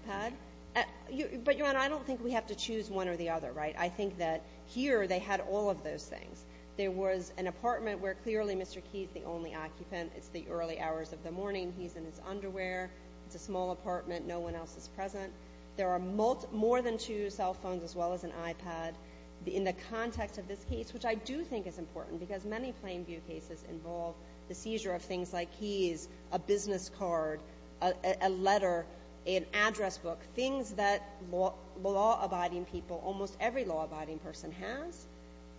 iPad. But, Your Honor, I don't think we have to choose one or the other, right? I think that here they had all of those things. There was an apartment where clearly Mr. Key is the only occupant. It's the early hours of the morning. He's in his underwear. It's a small apartment. No one else is present. There are more than two cell phones as well as an iPad in the context of this case, which I do think is important because many plain view cases involve the seizure of things like keys, a business card, a letter, an address book, things that law-abiding people, almost every law-abiding person has,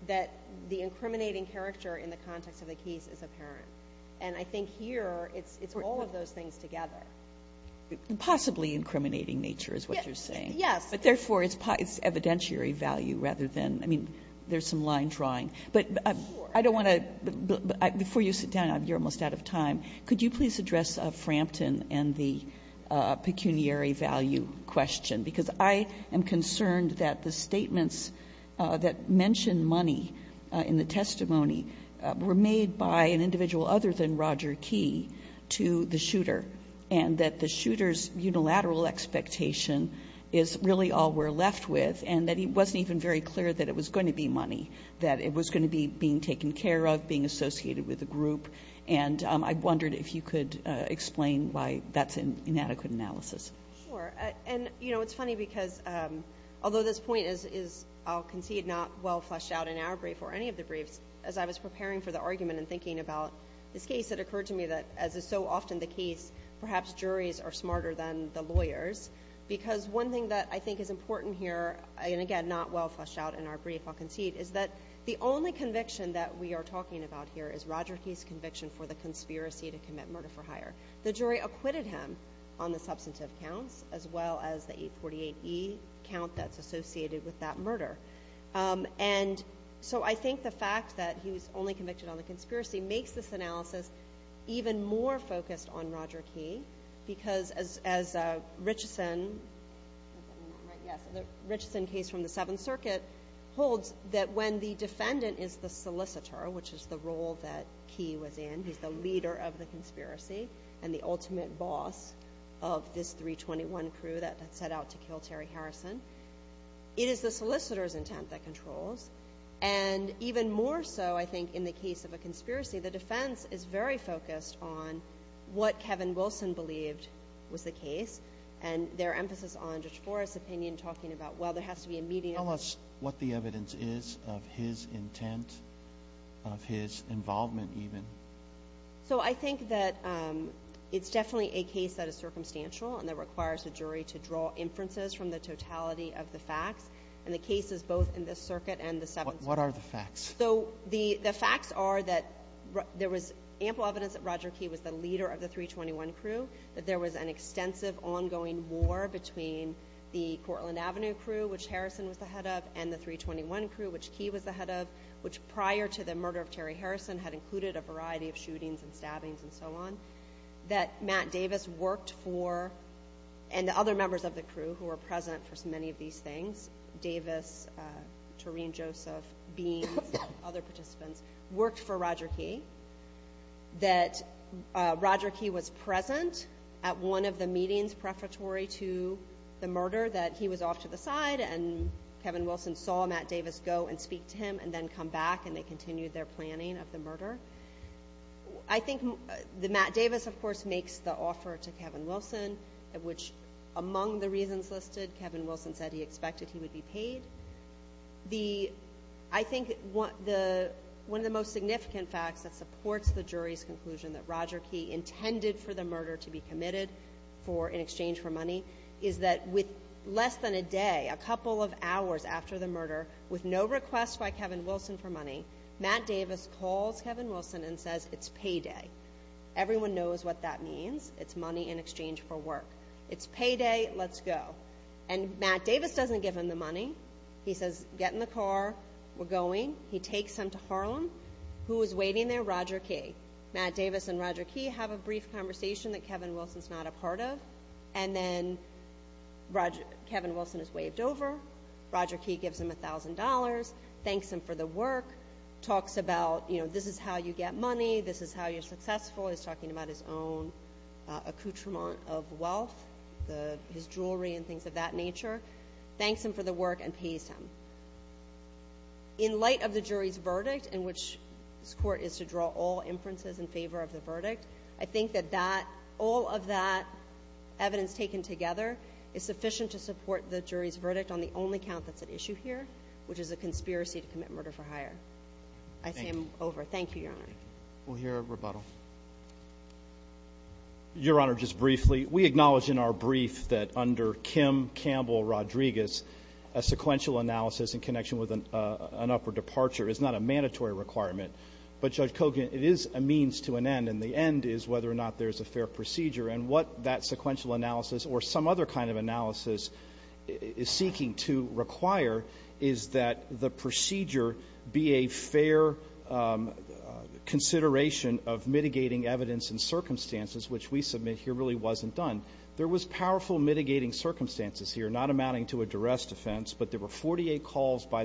that the incriminating character in the context of the case is apparent. And I think here it's all of those things together. Possibly incriminating nature is what you're saying. Yes. But therefore, it's evidentiary value rather than, I mean, there's some line drawing. But I don't want to, before you sit down, you're almost out of time. Could you please address Frampton and the pecuniary value question? Because I am concerned that the statements that mention money in the testimony were made by an individual other than Roger Key to the shooter, and that the shooter's unilateral expectation is really all we're left with, and that it wasn't even very clear that it was going to be money, that it was going to be being taken care of, being associated with the group. And I wondered if you could explain why that's an inadequate analysis. Sure. And, you know, it's funny because, although this point is, I'll concede, not well fleshed out in our brief or any of the briefs, as I was preparing for the argument and thinking about this case, it occurred to me that, as is so often the case, perhaps juries are smarter than the lawyers. Because one thing that I think is important here, and again, not well fleshed out in our brief, I'll concede, is that the only conviction that we are talking about here is Roger Key's conviction for the conspiracy to commit murder for hire. The jury acquitted him on the substantive counts, as well as the 848E count that's associated with that murder. And so I think the fact that he was only convicted on the conspiracy makes this analysis even more focused on Roger Key, because as Richeson, the Richeson case from the Seventh Circuit, holds that when the defendant is the solicitor, which is the role that Key was in, he's the leader of the conspiracy and the ultimate boss of this 321 crew that set out to kill Terry Harrison. It is the solicitor's intent that controls. And even more so, I think, in the case of a conspiracy, the defense is very focused on what Kevin Wilson believed was the case, and their emphasis on Judge Forrest's opinion talking about, well, there has to be a median. Tell us what the evidence is of his intent, of his involvement even. So I think that it's definitely a case that is circumstantial and that requires a jury to draw inferences from the totality of the facts, and the case is both in this circuit and the Seventh Circuit. What are the facts? So the facts are that there was ample evidence that Roger Key was the leader of the 321 crew, that there was an extensive ongoing war between the Cortland Avenue crew, which Harrison was the head of, and the 321 crew, which Key was the head of, which prior to the murder of Terry Harrison had included a variety of shootings and stabbings and so on, that Matt Davis worked for, and the other members of the crew who were present for many of these things, Davis, Toreen Joseph, Beans, other participants, worked for Roger Key, that Roger Key was present at one of the meetings preparatory to the murder, that he was off to the side and Kevin Wilson saw Matt Davis go and speak to him and then come back and they continued their planning of the murder. I think that Matt Davis, of course, makes the offer to Kevin Wilson, which among the reasons listed, Kevin Wilson said he expected he would be paid. I think one of the most significant facts that supports the jury's conclusion that Roger Key intended for the murder to be committed in exchange for money is that with less than a day, a couple of hours after the murder, with no request by Kevin Wilson for money, Matt Davis calls Kevin Wilson and says, it's payday. Everyone knows what that means. It's money in exchange for work. It's payday. Let's go. And Matt Davis doesn't give him the money. He says, get in the car, we're going. He takes him to Harlem. Who is waiting there? Roger Key. Matt Davis and Roger Key have a brief conversation that Kevin Wilson's not a part of, and then Kevin Wilson is waved over. Roger Key gives him $1,000, thanks him for the work, talks about, you know, this is how you get money, this is how you're successful. He's talking about his own accoutrement of wealth, his jewelry and things of that nature. Thanks him for the work and pays him. In light of the jury's verdict, in which this court is to draw all inferences in favor of is sufficient to support the jury's verdict on the only count that's at issue here, which is a conspiracy to commit murder for hire. I say I'm over. Thank you, Your Honor. We'll hear a rebuttal. Your Honor, just briefly, we acknowledge in our brief that under Kim Campbell Rodriguez, a sequential analysis in connection with an upper departure is not a mandatory requirement, but Judge Kogan, it is a means to an end and the end is whether or not there's a fair procedure and what that sequential analysis or some other kind of analysis is seeking to require is that the procedure be a fair consideration of mitigating evidence and circumstances, which we submit here really wasn't done. There was powerful mitigating circumstances here, not amounting to a duress defense, but there were 48 calls by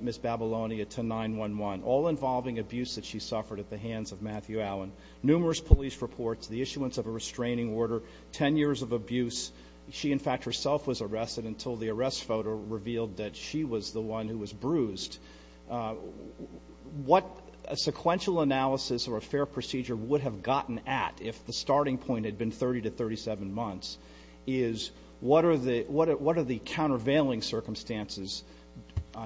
Ms. Babylonia to 911, all involving abuse that she suffered at the issuance of a restraining order, 10 years of abuse. She in fact herself was arrested until the arrest photo revealed that she was the one who was bruised. What a sequential analysis or a fair procedure would have gotten at, if the starting point had been 30 to 37 months, is what are the countervailing circumstances,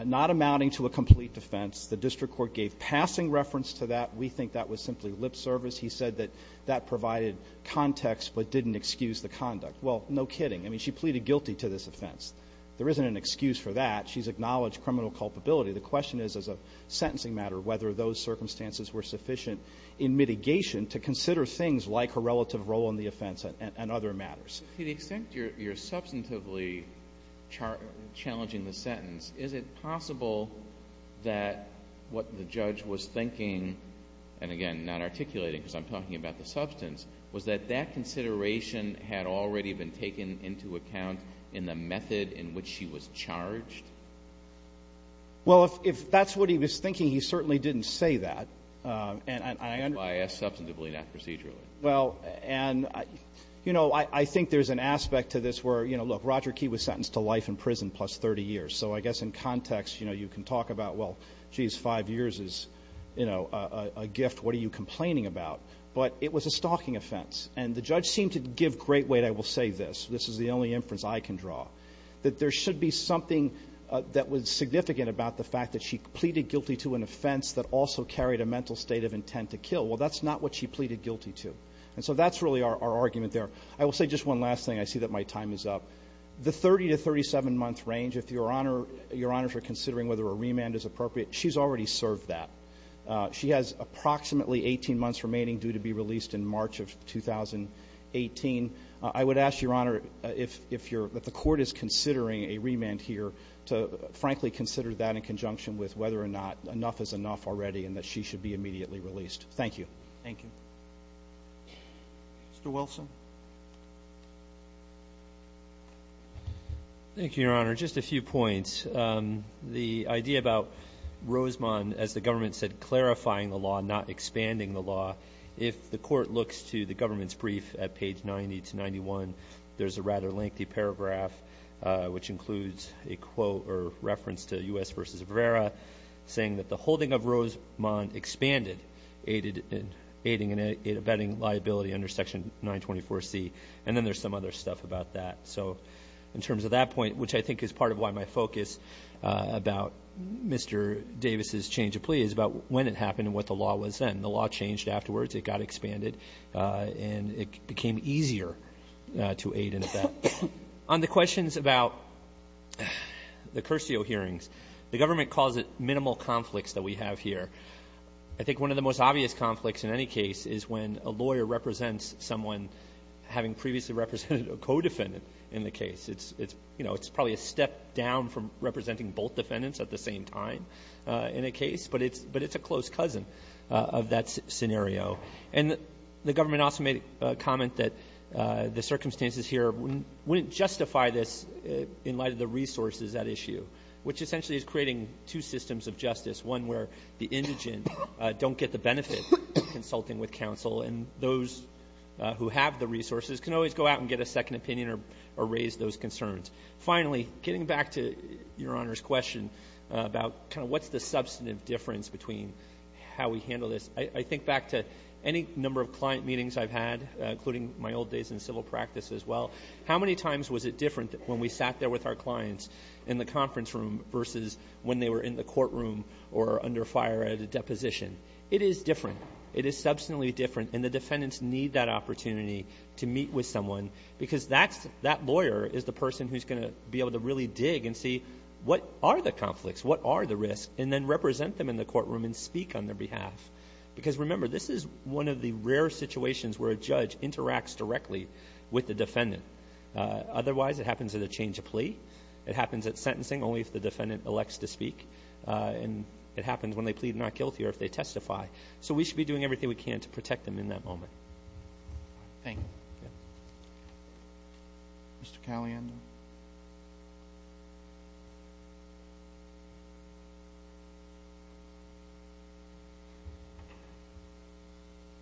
not amounting to a complete defense? The district court gave passing reference to that. We think that was simply lip service. He said that that provided context but didn't excuse the conduct. Well, no kidding. I mean, she pleaded guilty to this offense. There isn't an excuse for that. She's acknowledged criminal culpability. The question is, as a sentencing matter, whether those circumstances were sufficient in mitigation to consider things like her relative role in the offense and other matters. But to the extent you're substantively challenging the sentence, is it possible that what the judge was thinking, and again, not articulating because I'm talking about the substance, was that that consideration had already been taken into account in the method in which she was charged? Well, if that's what he was thinking, he certainly didn't say that. And I understand why I asked substantively, not procedurally. Well, and, you know, I think there's an aspect to this where, you know, look, Roger Key was sentenced to life in prison plus 30 years. So I guess in context, you know, you can talk about, well, geez, five years is, you know, a gift. What are you complaining about? But it was a stalking offense. And the judge seemed to give great weight, I will say this, this is the only inference I can draw, that there should be something that was significant about the fact that she pleaded guilty to an offense that also carried a mental state of intent to kill. Well, that's not what she pleaded guilty to. And so that's really our argument there. I will say just one last thing. I see that my time is up. The 30 to 37-month range, if Your Honor, Your Honors are considering whether a remand is appropriate, she's already served that. She has approximately 18 months remaining due to be released in March of 2018. I would ask, Your Honor, if you're, that the court is considering a remand here to, frankly, consider that in conjunction with whether or not enough is enough already and that she should be immediately released. Thank you. Thank you. Mr. Wilson. Thank you, Your Honor. Just a few points. The idea about Rosemont, as the government said, clarifying the law, not expanding the law, if the court looks to the government's brief at page 90 to 91, there's a rather lengthy paragraph, which includes a quote or reference to U.S. v. Rivera, saying that the holding of Rosemont expanded aiding and abetting liability under Section 924C. And then there's some other stuff about that. So in terms of that point, which I think is part of why my focus about Mr. Davis' change of plea is about when it happened and what the law was then. The law changed afterwards. It got expanded. And it became easier to aid and abet. On the questions about the Curcio hearings, the government calls it minimal conflicts that we have here. I think one of the most obvious conflicts in any case is when a lawyer represents someone having previously represented a co-defendant in the case. It's probably a step down from representing both defendants at the same time in a case, but it's a close cousin of that scenario. And the government also made a comment that the circumstances here wouldn't justify this in light of the resources at issue, which essentially is creating two systems of justice, one where the indigent don't get the benefit of consulting with counsel and those who have the resources can always go out and get a second opinion or raise those concerns. Finally, getting back to Your Honor's question about kind of what's the substantive difference between how we handle this, I think back to any number of client meetings I've had, including my old days in civil practice as well. How many times was it different when we sat there with our clients in the conference room versus when they were in the courtroom or under fire at a deposition? It is different. It is substantially different. And the defendants need that opportunity to meet with someone because that lawyer is the person who's going to be able to really dig and see what are the conflicts, what are the risks, and then represent them in the courtroom and speak on their behalf. Because, remember, this is one of the rare situations where a judge interacts directly with the defendant. Otherwise, it happens at a change of plea. It happens at sentencing only if the defendant elects to speak. And it happens when they plead not guilty or if they testify. So we should be doing everything we can to protect them in that moment. Thank you. Mr. Caliendo.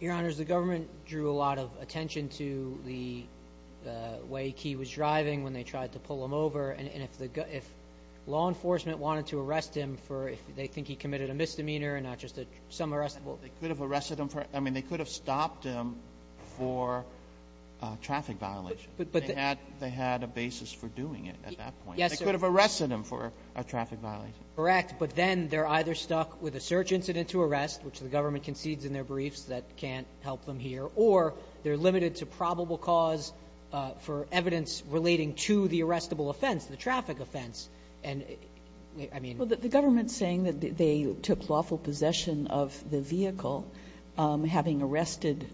Your Honors, the government drew a lot of attention to the way Key was driving when they tried to pull him over. And if law enforcement wanted to arrest him for if they think he committed a misdemeanor and not just some arrestable. I mean, they could have stopped him for a traffic violation. But they had a basis for doing it at that point. Yes, sir. They could have arrested him for a traffic violation. Correct. But then they're either stuck with a search incident to arrest, which the government concedes in their briefs that can't help them here, or they're limited to probable cause for evidence relating to the arrestable offense, the traffic offense. Well, the government's saying that they took lawful possession of the vehicle having arrested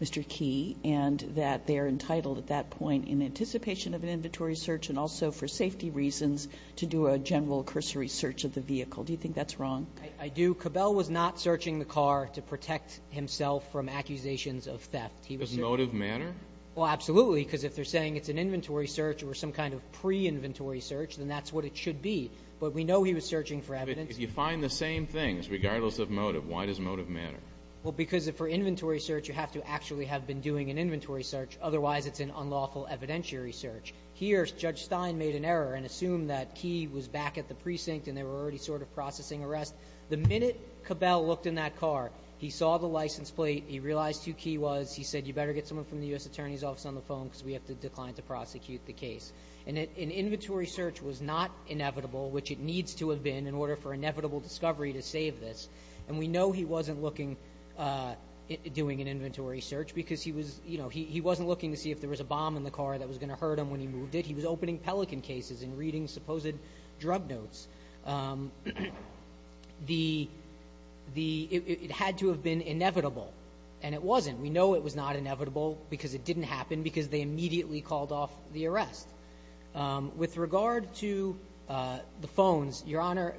Mr. Key and that they're entitled at that point in anticipation of an inventory search and also for safety reasons to do a general cursory search of the vehicle. Do you think that's wrong? I do. Cabell was not searching the car to protect himself from accusations of theft. In a motive manner? Well, absolutely, because if they're saying it's an inventory search or some kind of pre-inventory search, then that's what it should be. But we know he was searching for evidence. But if you find the same things, regardless of motive, why does motive matter? Well, because for inventory search, you have to actually have been doing an inventory search. Otherwise, it's an unlawful evidentiary search. Here, Judge Stein made an error and assumed that Key was back at the precinct and they were already sort of processing arrest. The minute Cabell looked in that car, he saw the license plate. He realized who Key was. He said, you better get someone from the U.S. Attorney's Office on the phone because we have to decline to prosecute the case. An inventory search was not inevitable, which it needs to have been in order for inevitable discovery to save this. And we know he wasn't doing an inventory search because he wasn't looking to see if there was a bomb in the car that was going to hurt him when he moved it. He was opening Pelican cases and reading supposed drug notes. It had to have been inevitable, and it wasn't. We know it was not inevitable because it didn't happen because they immediately called off the arrest. With regard to the phones, Your Honor,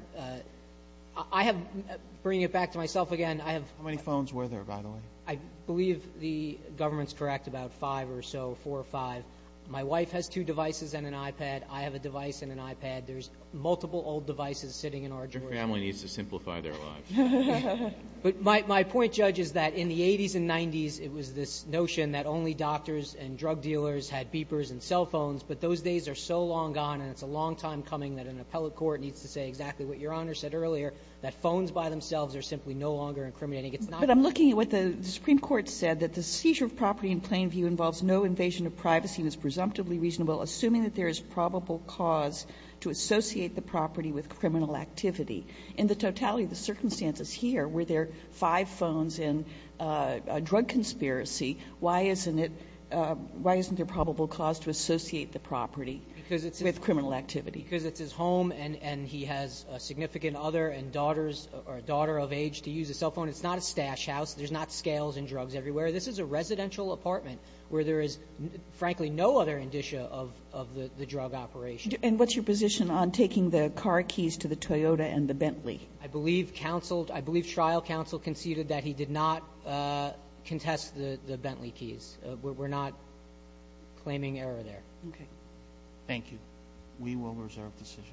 I have to bring it back to myself again. How many phones were there, by the way? I believe the government's correct about five or so, four or five. My wife has two devices and an iPad. I have a device and an iPad. There's multiple old devices sitting in our drawers. Your family needs to simplify their lives. But my point, Judge, is that in the 80s and 90s, it was this notion that only doctors and drug dealers had beepers and cell phones. But those days are so long gone, and it's a long time coming that an appellate court needs to say exactly what Your Honor said earlier, that phones by themselves are simply no longer incriminating. It's not. But I'm looking at what the Supreme Court said, that the seizure of property in plain view involves no invasion of privacy and is presumptively reasonable assuming that there is probable cause to associate the property with criminal activity. In the totality of the circumstances here, were there five phones in a drug conspiracy, why isn't it a probable cause to associate the property with criminal activity? Because it's his home and he has a significant other and daughters or a daughter of age to use a cell phone. It's not a stash house. There's not scales and drugs everywhere. This is a residential apartment where there is, frankly, no other indicia of the drug operation. And what's your position on taking the car keys to the Toyota and the Bentley? I believe counseled, I believe trial counsel conceded that he did not contest the Bentley keys. We're not claiming error there. Okay. Thank you. We will reserve decision.